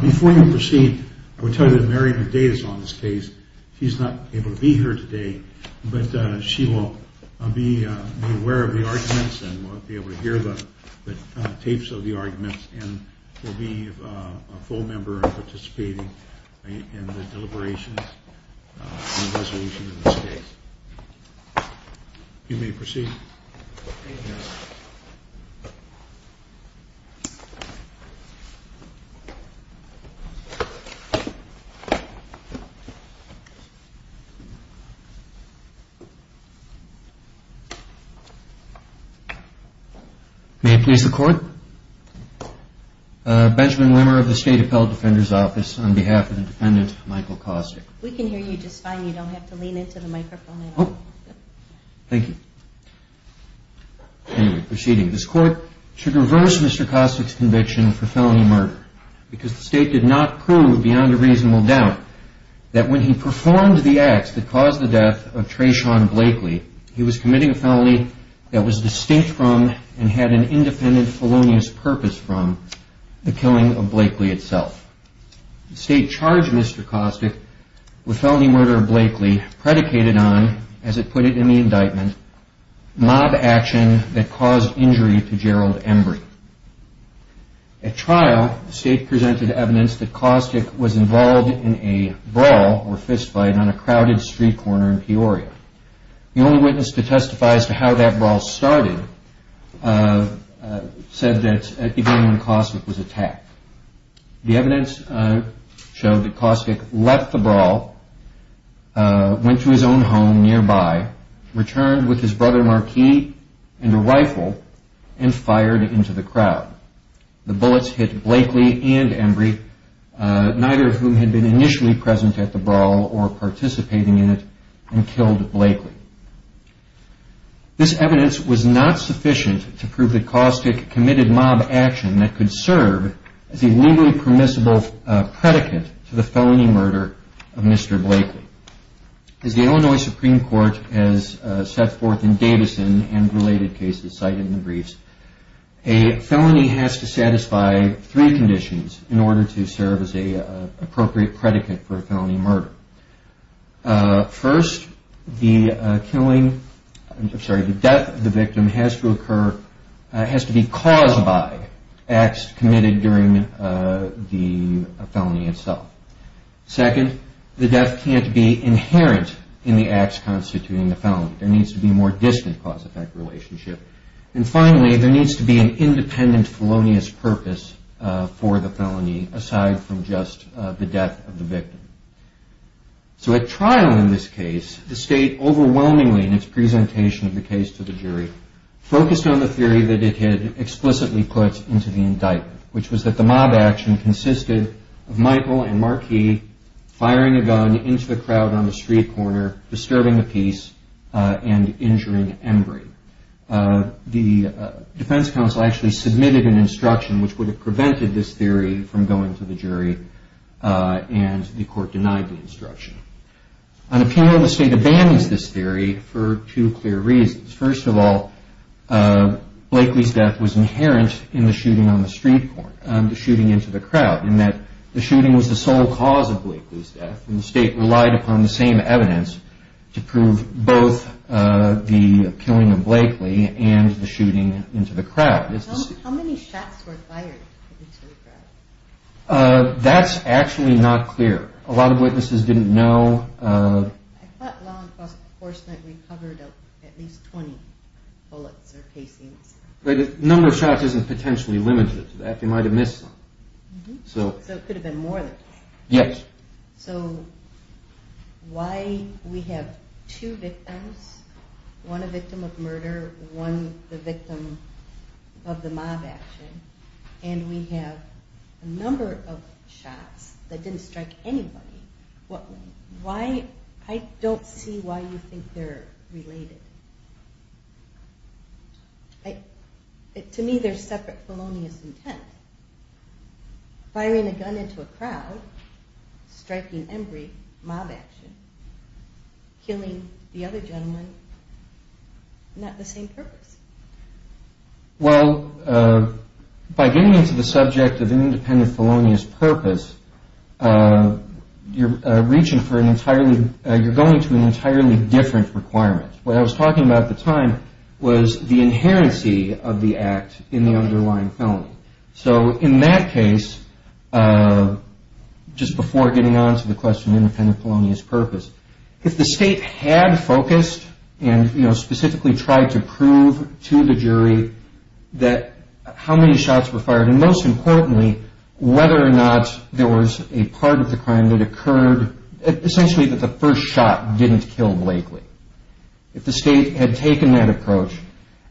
Before you proceed, I would tell you that Mary Medea is on this case. She's not able to be here today, but she will be aware of the arguments and will be able to hear the tapes of the arguments and will be a full member of participating in the deliberations. You may proceed. May I please record? Benjamin Wimmer of the State Appellate Defender's Office on behalf of the defendant Michael Costic. We can hear you just fine. You don't have to lean into the microphone at all. Thank you. Anyway, proceeding. This Court should reverse Mr. Costic's conviction for felony murder because the State did not prove beyond a reasonable doubt that when he performed the acts that caused the death of Treshaun Blakely, he was committing a felony that was distinct from and had an independent felonious purpose from the killing of Blakely itself. The State charged Mr. Costic with felony murder of Blakely predicated on, as it put it in the indictment, mob action that caused injury to Gerald Embry. At trial, the State presented evidence that Costic was involved in a brawl or fist fight on a crowded street corner in Peoria. The only witness to testify as to how that brawl started said that it began when Costic was attacked. The evidence showed that Costic left the brawl, went to his own home nearby, returned with his brother Marquis and a rifle, and fired into the crowd. The bullets hit Blakely and Embry, neither of whom had been initially present at the brawl or participating in it, and killed Blakely. This evidence was not sufficient to prove that Costic committed mob action that could serve as a legally permissible predicate to the felony murder of Mr. Blakely. As the Illinois Supreme Court has set forth in Davison and related cases cited in the briefs, a felony has to satisfy three conditions in order to serve as an appropriate predicate for a felony murder. First, the death of the victim has to be caused by acts committed during the felony itself. Second, the death can't be inherent in the acts constituting the felony. There needs to be a more distant cause-effect relationship. And finally, there needs to be an independent felonious purpose for the felony aside from just the death of the victim. So at trial in this case, the State overwhelmingly in its presentation of the case to the jury focused on the theory that it had explicitly put into the indictment, which was that the mob action consisted of Michael and Marquis firing a gun into the crowd on the street corner, disturbing the peace, and injuring Embry. The defense counsel actually submitted an instruction which would have prevented this theory from going to the jury, and the court denied the instruction. On appeal, the State abandons this theory for two clear reasons. First of all, Blakely's death was inherent in the shooting on the street corner, the shooting into the crowd, in that the shooting was the sole cause of Blakely's death, and the State relied upon the same evidence to prove both the killing of Blakely and the shooting into the crowd. How many shots were fired into the crowd? That's actually not clear. A lot of witnesses didn't know. I thought law enforcement recovered at least 20 bullets or casings. The number of shots isn't potentially limited to that. They might have missed some. So it could have been more than 20. Yes. So why we have two victims, one a victim of murder, one the victim of the mob action, and we have a number of shots that didn't strike anybody. I don't see why you think they're related. To me, they're separate felonious intent. Firing a gun into a crowd, striking Embry, mob action, killing the other gentleman, not the same purpose. Well, by getting into the subject of independent felonious purpose, you're going to an entirely different requirement. What I was talking about at the time was the inherency of the act in the underlying felony. So in that case, just before getting on to the question of independent felonious purpose, if the state had focused and specifically tried to prove to the jury that how many shots were fired, and most importantly, whether or not there was a part of the crime that occurred, essentially that the first shot didn't kill Blakely. If the state had taken that approach,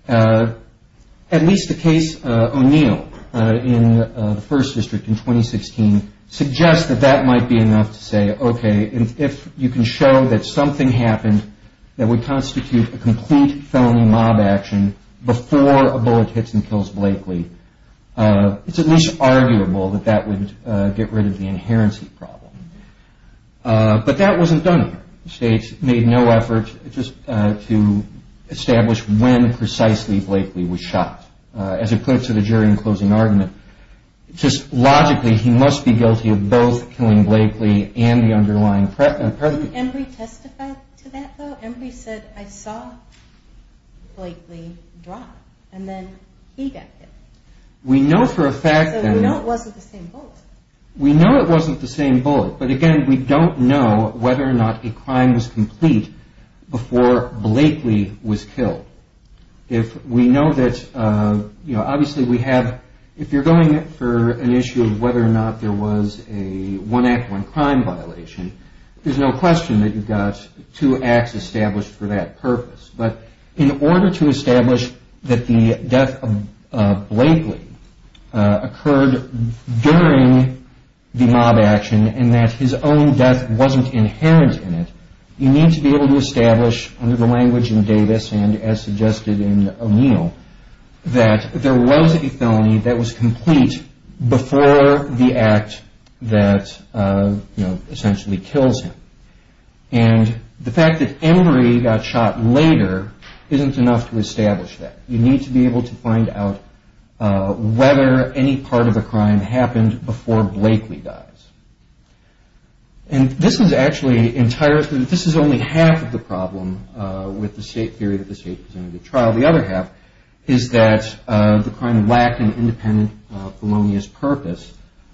at least the case O'Neill in the First District in 2016 suggests that that might be enough to say, okay, if you can show that something happened that would constitute a complete felony mob action before a bullet hits and kills Blakely, it's at least arguable that that would get rid of the inherency problem. But that wasn't done. The states made no effort just to establish when precisely Blakely was shot. As it puts it, a jury in closing argument, just logically he must be guilty of both killing Blakely and the underlying perpetrator. Didn't Embry testify to that, though? Embry said, I saw Blakely drop, and then he got hit. We know for a fact that... So we know it wasn't the same bullet. We know it wasn't the same bullet, but again, we don't know whether or not a crime was complete before Blakely was killed. If we know that, you know, obviously we have... If you're going for an issue of whether or not there was a one act, one crime violation, there's no question that you've got two acts established for that purpose. But in order to establish that the death of Blakely occurred during the mob action, and that his own death wasn't inherent in it, you need to be able to establish under the language in Davis and as suggested in O'Neill, that there was a felony that was complete before the act that, you know, essentially kills him. And the fact that Embry got shot later isn't enough to establish that. You need to be able to find out whether any part of the crime happened before Blakely dies. And this is actually entirely... This is only half of the problem with the state theory that the state presented the trial. The other half is that the crime lacked an independent felonious purpose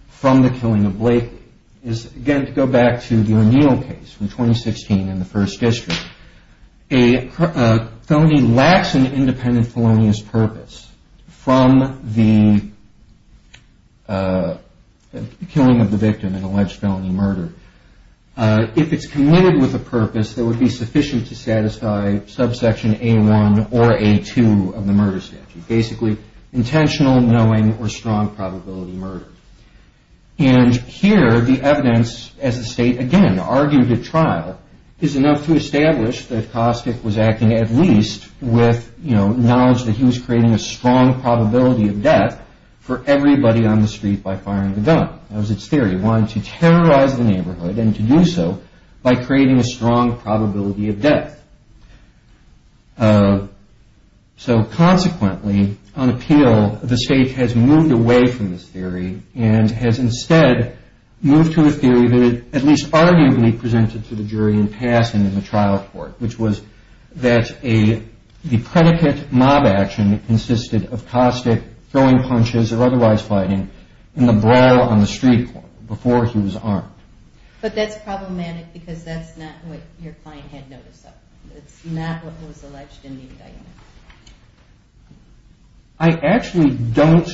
from the killing of Blakely. Again, to go back to the O'Neill case from 2016 in the First District, a felony lacks an independent felonious purpose from the killing of the victim in alleged felony murder. If it's committed with a purpose that would be sufficient to satisfy subsection A1 or A2 of the murder statute, basically intentional, knowing, or strong probability murder. And here the evidence, as the state again argued at trial, is enough to establish that Kostick was acting at least with, you know, knowledge that he was creating a strong probability of death for everybody on the street by firing the gun. That was its theory. He wanted to terrorize the neighborhood and to do so by creating a strong probability of death. So consequently, on appeal, the state has moved away from this theory and has instead moved to a theory that it at least arguably presented to the jury in passing in the trial court, which was that the predicate mob action consisted of Kostick throwing punches or otherwise fighting in the brawl on the street before he was armed. But that's problematic because that's not what your client had noticed though. It's not what was alleged in the indictment. I actually don't,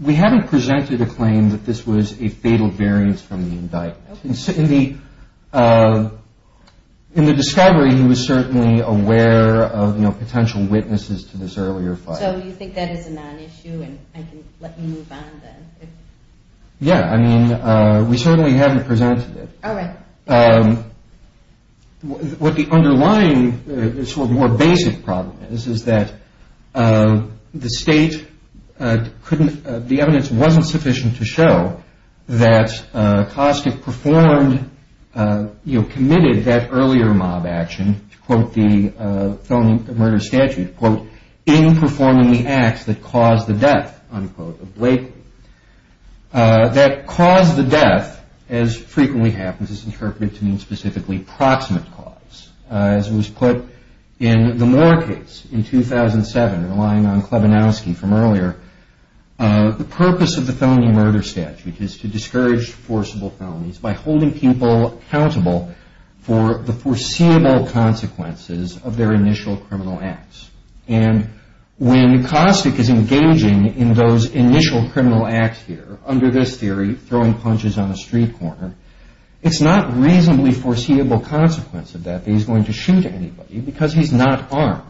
we haven't presented a claim that this was a fatal variance from the indictment. In the discovery, he was certainly aware of, you know, potential witnesses to this earlier fire. So you think that is a non-issue and I can let you move on then? Yeah, I mean, we certainly haven't presented it. All right. What the underlying sort of more basic problem is, is that the state couldn't, the evidence wasn't sufficient to show that Kostick performed, you know, committed that earlier mob action, to quote the felony murder statute, quote, in performing the acts that caused the death, unquote, of Blakely. That caused the death, as frequently happens, is interpreted to mean specifically proximate cause. As it was put in the Moore case in 2007, relying on Klebanowski from earlier, the purpose of the felony murder statute is to discourage forcible felonies by holding people accountable for the foreseeable consequences of their initial criminal acts. And when Kostick is engaging in those initial criminal acts here, under this theory, throwing punches on a street corner, it's not reasonably foreseeable consequence of that that he's going to shoot anybody because he's not armed.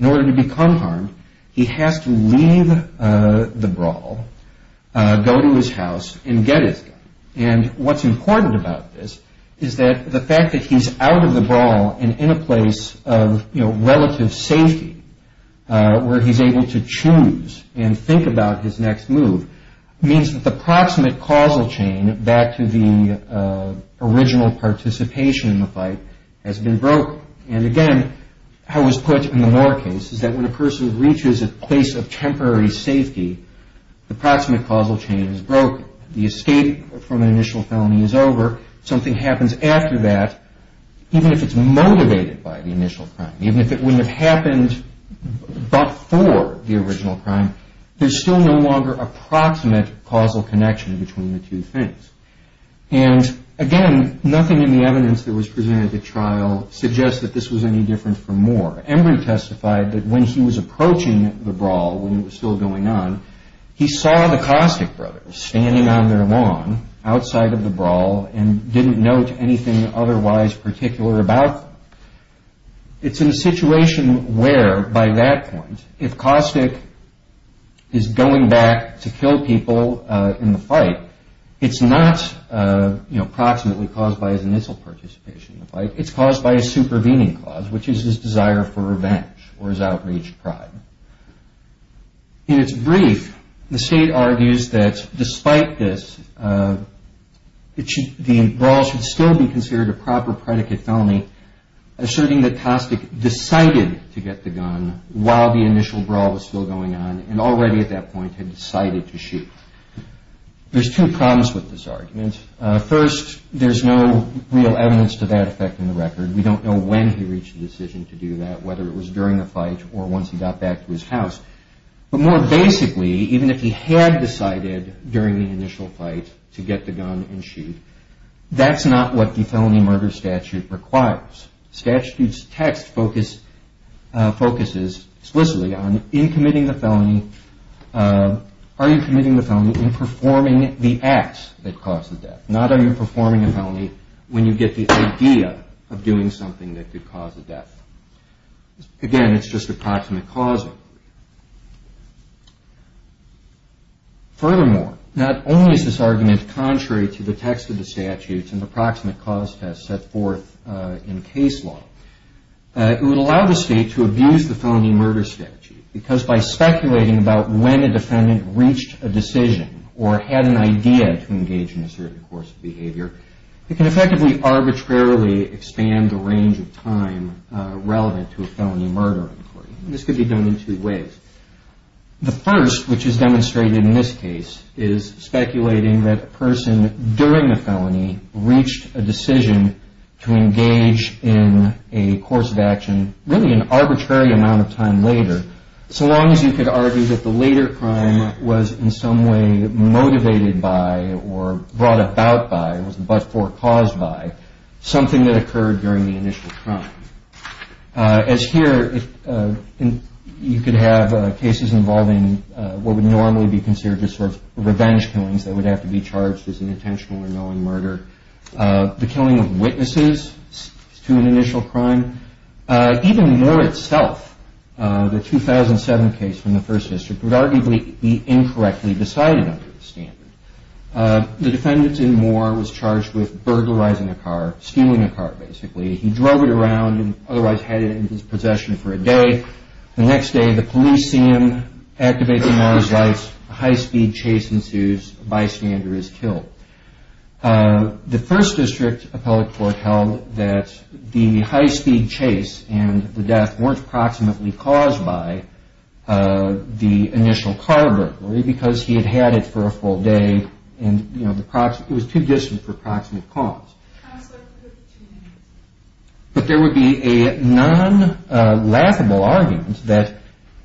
In order to become harmed, he has to leave the brawl, go to his house, and get his gun. And what's important about this is that the fact that he's out of the brawl and in a place of, you know, relative safety, where he's able to choose and think about his next move, means that the proximate causal chain back to the original participation in the fight has been broken. And again, how it was put in the Moore case is that when a person reaches a place of temporary safety, the proximate causal chain is broken. The escape from an initial felony is over. Something happens after that, even if it's motivated by the initial crime, even if it wouldn't have happened before the original crime, there's still no longer a proximate causal connection between the two things. And again, nothing in the evidence that was presented at the trial suggests that this was any different from Moore. Embry testified that when he was approaching the brawl, when it was still going on, he saw the Caustic brothers standing on their lawn outside of the brawl and didn't note anything otherwise particular about them. It's in a situation where, by that point, if Caustic is going back to kill people in the fight, it's not, you know, proximately caused by his initial participation in the fight, but it's caused by a supervening clause, which is his desire for revenge or his outreached pride. In its brief, the state argues that despite this, the brawl should still be considered a proper predicate felony, asserting that Caustic decided to get the gun while the initial brawl was still going on and already at that point had decided to shoot. There's two problems with this argument. First, there's no real evidence to that effect in the record. We don't know when he reached the decision to do that, whether it was during the fight or once he got back to his house. But more basically, even if he had decided during the initial fight to get the gun and shoot, that's not what the felony murder statute requires. The statute's text focuses explicitly on in committing the felony, are you committing the felony in performing the acts that caused the death, not are you performing a felony when you get the idea of doing something that could cause a death. Again, it's just approximate causing. Furthermore, not only is this argument contrary to the text of the statute and the approximate cause test set forth in case law, it would allow the state to abuse the felony murder statute because by speculating about when a defendant reached a decision or had an idea to engage in a certain course of behavior, it can effectively arbitrarily expand the range of time relevant to a felony murder inquiry. This could be done in two ways. The first, which is demonstrated in this case, is speculating that a person during the felony reached a decision to engage in a course of action really an arbitrary amount of time later, so long as you could argue that the later crime was in some way motivated by or brought about by, was but for, caused by, something that occurred during the initial crime. As here, you could have cases involving what would normally be considered just sort of revenge killings that would have to be charged as an intentional or knowing murder. The killing of witnesses to an initial crime. Even Moore itself, the 2007 case from the First District, would arguably be incorrectly decided under this standard. The defendant in Moore was charged with burglarizing a car, stealing a car basically. He drove it around and otherwise had it in his possession for a day. The next day, the police see him, activate the motor's lights, a high-speed chase ensues, a bystander is killed. The First District appellate court held that the high-speed chase and the death weren't proximately caused by the initial car burglary because he had had it for a full day and it was too distant for proximate cause. But there would be a non-laughable argument that,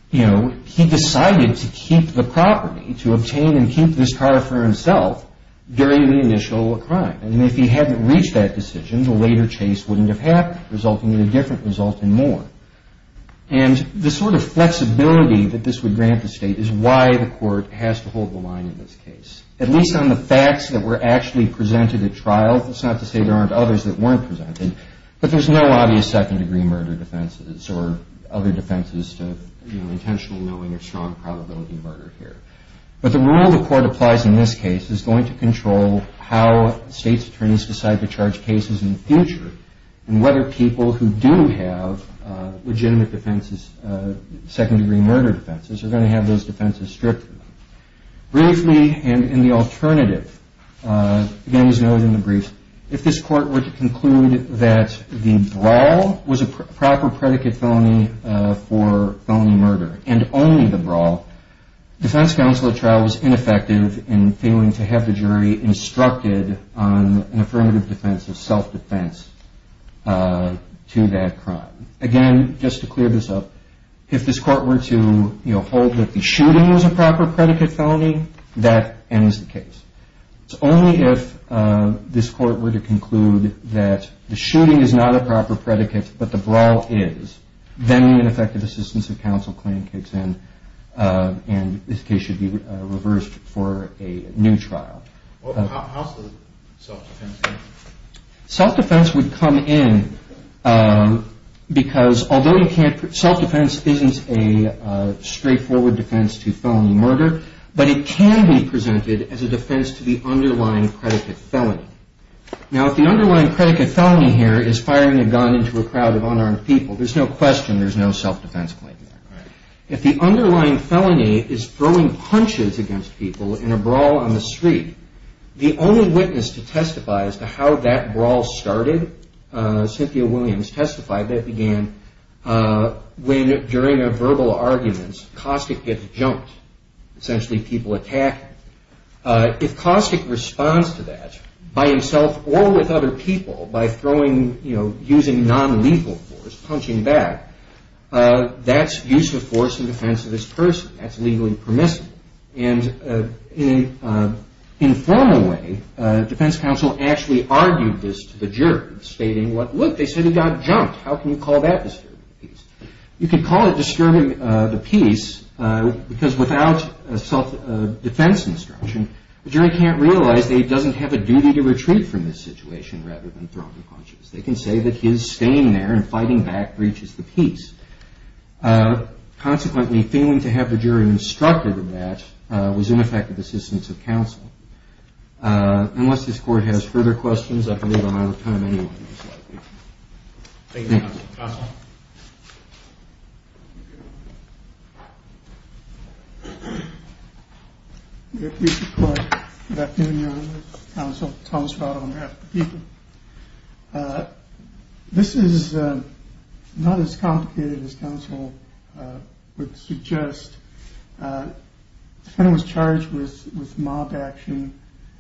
you know, he decided to keep the property, to obtain and keep this car for himself during the initial crime. And if he hadn't reached that decision, the later chase wouldn't have happened, resulting in a different result in Moore. And the sort of flexibility that this would grant the state is why the court has to hold the line in this case. At least on the facts that were actually presented at trial, that's not to say there aren't others that weren't presented, but there's no obvious second-degree murder defenses or other defenses to, you know, intentional knowing or strong probability murder here. But the rule the court applies in this case is going to control how states' attorneys decide to charge cases in the future and whether people who do have legitimate defenses, second-degree murder defenses, are going to have those defenses stripped of them. Briefly, and in the alternative, again, as noted in the brief, if this court were to conclude that the brawl was a proper predicate felony for felony murder and only the brawl, defense counsel at trial was ineffective in failing to have the jury instructed on an affirmative defense of self-defense to that crime. Again, just to clear this up, if this court were to, you know, hold that the shooting was a proper predicate felony, that ends the case. It's only if this court were to conclude that the shooting is not a proper predicate but the brawl is, then an effective assistance of counsel claim kicks in and this case should be reversed for a new trial. Well, how's the self-defense? Self-defense would come in because although self-defense isn't a straightforward defense to felony murder, but it can be presented as a defense to the underlying predicate felony. Now, if the underlying predicate felony here is firing a gun into a crowd of unarmed people, there's no question there's no self-defense claim there. If the underlying felony is throwing punches against people in a brawl on the street, the only witness to testify as to how that brawl started, Cynthia Williams testified that it began when, during a verbal argument, Caustic gets jumped, essentially people attack him. If Caustic responds to that by himself or with other people by throwing, you know, using non-legal force, punching back, that's use of force in defense of this person. That's legally permissible. And in an informal way, defense counsel actually argued this to the jury, stating, look, they said he got jumped. How can you call that disturbing the peace? You can call it disturbing the peace because without self-defense instruction, the jury can't realize that he doesn't have a duty to retreat from this situation rather than throw the punches. They can say that his staying there and fighting back breaches the peace. Consequently, failing to have the jury instructed in that was ineffective assistance of counsel. Unless this court has further questions, I believe I'm out of time anyway. Thank you, counsel. Counsel. This is not as complicated as counsel would suggest. The defendant was charged with mob action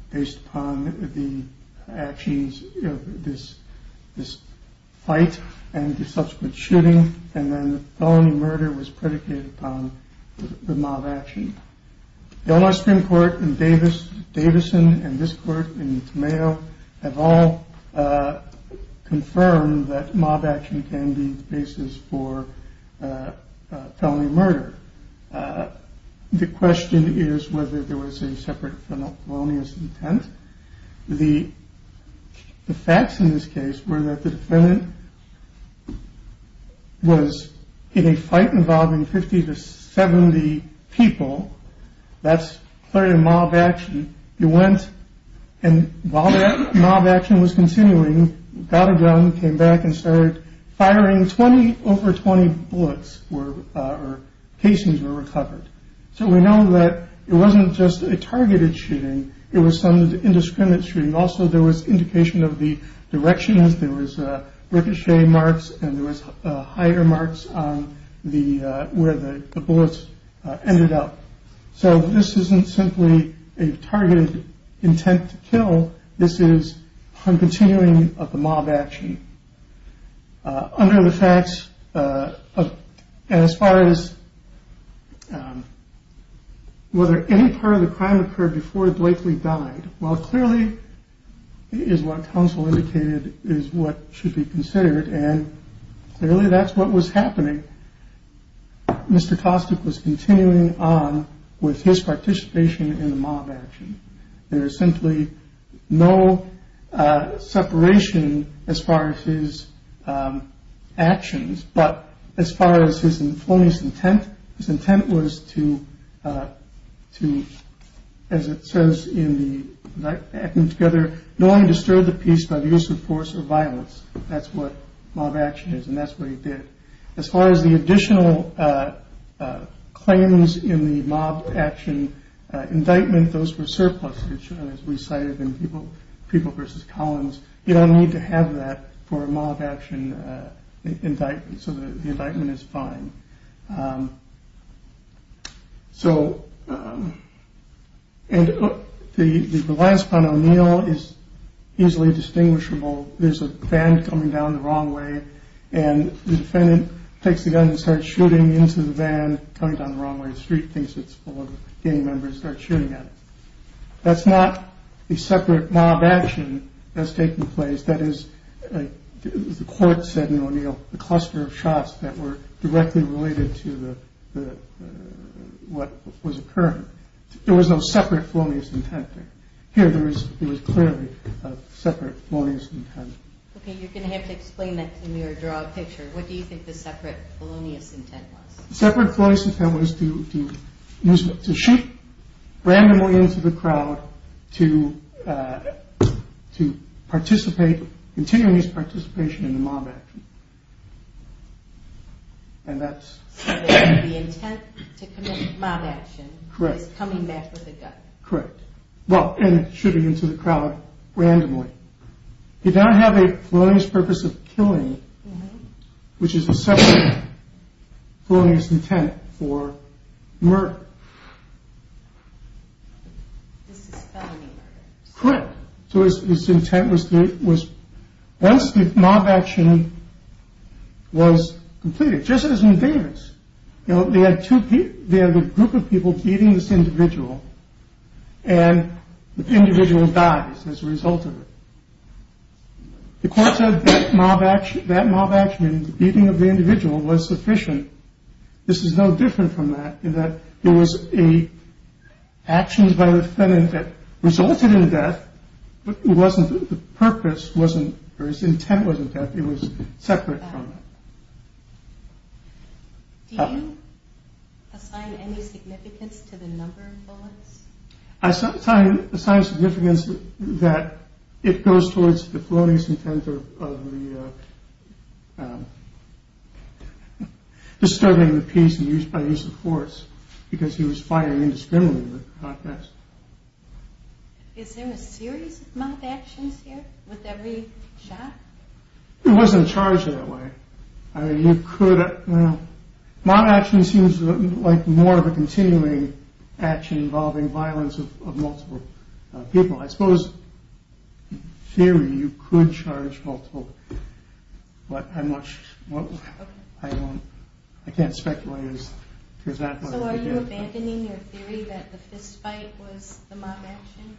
based upon the actions of this fight and the subsequent shooting. And then felony murder was predicated upon the mob action. Elmer Supreme Court in Davis, Davison, and this court in Tomato have all confirmed that mob action can be the basis for felony murder. The question is whether there was a separate felonious intent. The facts in this case were that the defendant was in a fight involving 50 to 70 people. That's clearly a mob action. He went and while that mob action was continuing, got a gun, came back and started firing 20 over 20 bullets or cases were recovered. So we know that it wasn't just a targeted shooting. It was some indiscriminate shooting. Also, there was indication of the directions. There was a ricochet marks and there was higher marks on the where the bullets ended up. So this isn't simply a targeted intent to kill. This is continuing of the mob action under the facts. As far as whether any part of the crime occurred before Blakely died. Well, clearly, is what counsel indicated is what should be considered. And clearly, that's what was happening. Mr. Costic was continuing on with his participation in the mob action. There is simply no separation as far as his actions. But as far as his felonious intent, his intent was to, as it says in the together, knowing to stir the peace by the use of force or violence. That's what mob action is. And that's what he did. As far as the additional claims in the mob action indictment, those were surpluses, as we cited in people, people versus Collins. You don't need to have that for a mob action indictment. So the indictment is fine. So. And the last one, O'Neill, is easily distinguishable. There's a van coming down the wrong way and the defendant takes the gun and starts shooting into the van coming down the wrong way. The street thinks it's full of gang members start shooting at it. That's not a separate mob action that's taking place. That is, as the court said in O'Neill, the cluster of shots that were directly related to the what was occurring. There was no separate felonious intent. It was clearly a separate felonious intent. OK, you're going to have to explain that to me or draw a picture. What do you think the separate felonious intent was? Separate felonious intent was to shoot randomly into the crowd to participate, continuous participation in the mob action. And that's the intent to commit mob action. Correct. Coming back with a gun. Correct. Well, and it should be into the crowd randomly. You don't have a felonious purpose of killing, which is a separate felonious intent for murder. This is felony murder. Correct. So his intent was once the mob action was completed, just as in Davis, you know, they had two people, they had a group of people beating this individual and the individual dies as a result of it. The court said that mob action, that mob action, the beating of the individual was sufficient. This is no different from that. That there was a action by the defendant that resulted in death. It wasn't the purpose wasn't or his intent wasn't that it was separate from. Do you assign any significance to the number of bullets? I assign significance that it goes towards the felonious intent of disturbing the peace by use of force because he was firing indiscriminately. Is there a series of mob actions here? With every shot? It wasn't charged that way. Mob action seems like more of a continuing action involving violence of multiple people. I suppose, in theory, you could charge multiple. But I'm not sure. I can't speculate. So are you abandoning your theory that the fist fight was the mob action?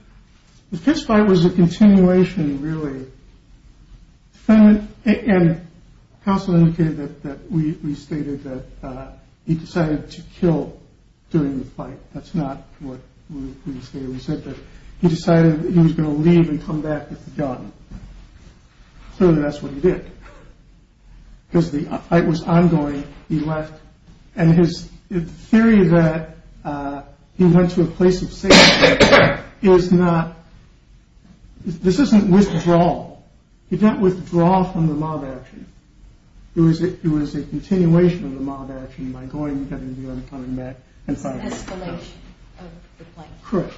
The fist fight was a continuation, really. And counsel indicated that we stated that he decided to kill during the fight. That's not what we said. We said that he decided he was going to leave and come back with the gun. So that's what he did. Because the fight was ongoing. He left and his theory that he went to a place of safety is not. This isn't withdrawal. He didn't withdraw from the mob action. It was a continuation of the mob action by going and coming back. It's an escalation of the fight. Correct.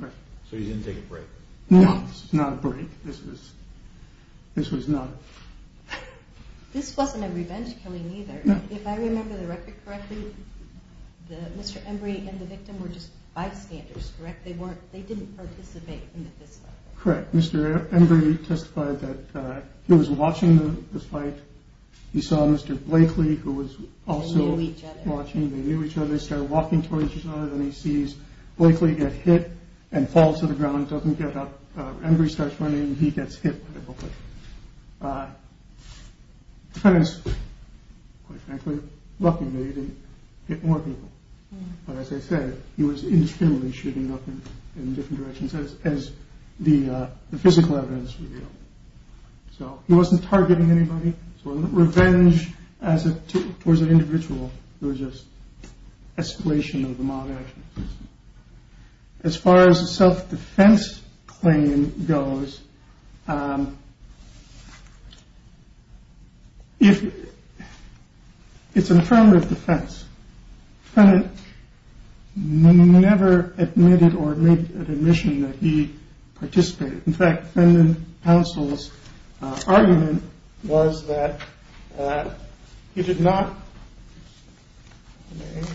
So he didn't take a break? No, this is not a break. This was not. This wasn't a revenge killing either. If I remember the record correctly, Mr. Embree and the victim were just bystanders, correct? They didn't participate in the fist fight. Correct. Mr. Embree testified that he was watching the fight. He saw Mr. Blakely, who was also watching. They knew each other. They knew each other. They started walking towards each other. Then he sees Blakely get hit and falls to the ground. Doesn't get up. Embree starts running. He gets hit by the bullet. The defendant is, quite frankly, lucky maybe to get more people. But as I said, he was indiscriminately shooting up in different directions as the physical evidence revealed. So he wasn't targeting anybody. So revenge towards an individual was just escalation of the mob action. As far as the self-defense claim goes, it's an affirmative defense. The defendant never admitted or made an admission that he participated. In fact, the defendant's counsel's argument was that he did not. The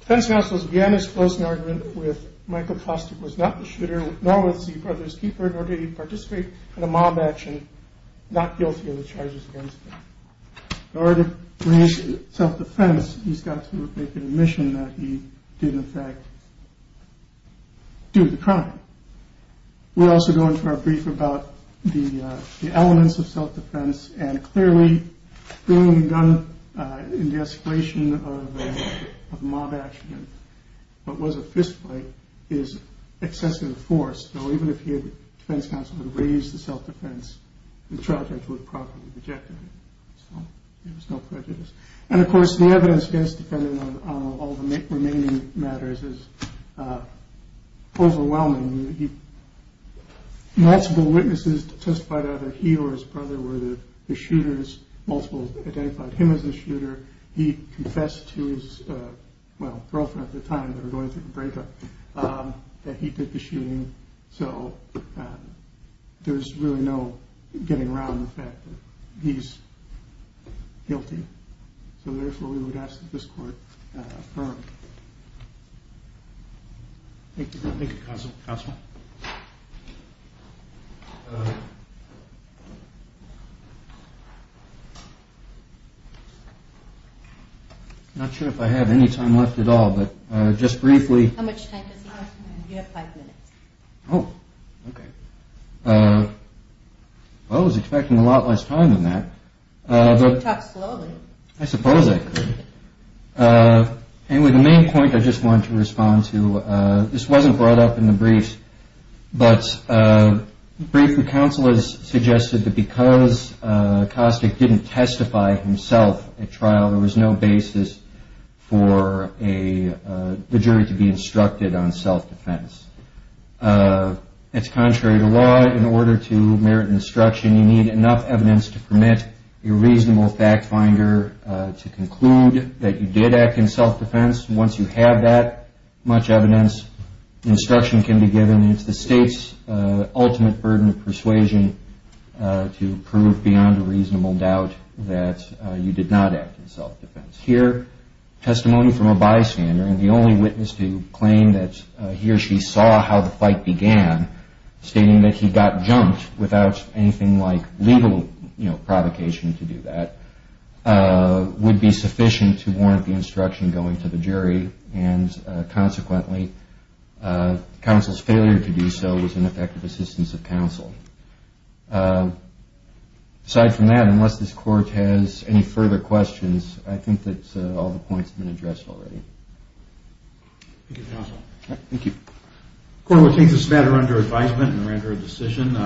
defense counsel's again disclosed an argument with Michael Foster was not the shooter, nor was he the brother's keeper, nor did he participate in a mob action, not guilty of the charges against him. In order to raise self-defense, he's got to make an admission that he did, in fact, do the crime. We'll also go into our brief about the elements of self-defense, and clearly bringing a gun in the escalation of a mob action, what was a fistfight, is excessive force. So even if the defense counsel had raised the self-defense, the trial judge would have properly rejected it. So there was no prejudice. And of course, the evidence against the defendant on all the remaining matters is overwhelming. Multiple witnesses testified that either he or his brother were the shooters. Multiple identified him as the shooter. He confessed to his girlfriend at the time that he did the shooting. So there's really no getting around the fact that he's guilty. So therefore, we would ask that this court affirm. Thank you, counsel. Not sure if I have any time left at all, but just briefly. How much time does he have? You have five minutes. Oh, okay. Well, I was expecting a lot less time than that. Talk slowly. I suppose I could. Anyway, the main point I just wanted to respond to, this wasn't brought up in the briefs, but a brief the counsel has suggested that because Kostic didn't testify himself at trial, there was no basis for the jury to be instructed on self-defense. It's contrary to law. In order to merit an instruction, you need enough evidence to permit a reasonable fact-finder to conclude that you did act in self-defense. Once you have that much evidence, instruction can be given. It's the state's ultimate burden of persuasion to prove beyond a reasonable doubt that you did not act in self-defense. Here, testimony from a bystander and the only witness to claim that he or she saw how the fight began, stating that he got jumped without anything like legal provocation to do that, would be sufficient to warrant the instruction going to the jury, and consequently, counsel's failure to do so was an effect of assistance of counsel. Aside from that, unless this Court has any further questions, I think that all the points have been addressed already. Thank you, counsel. Thank you. The court will take this matter under advisement and render a decision.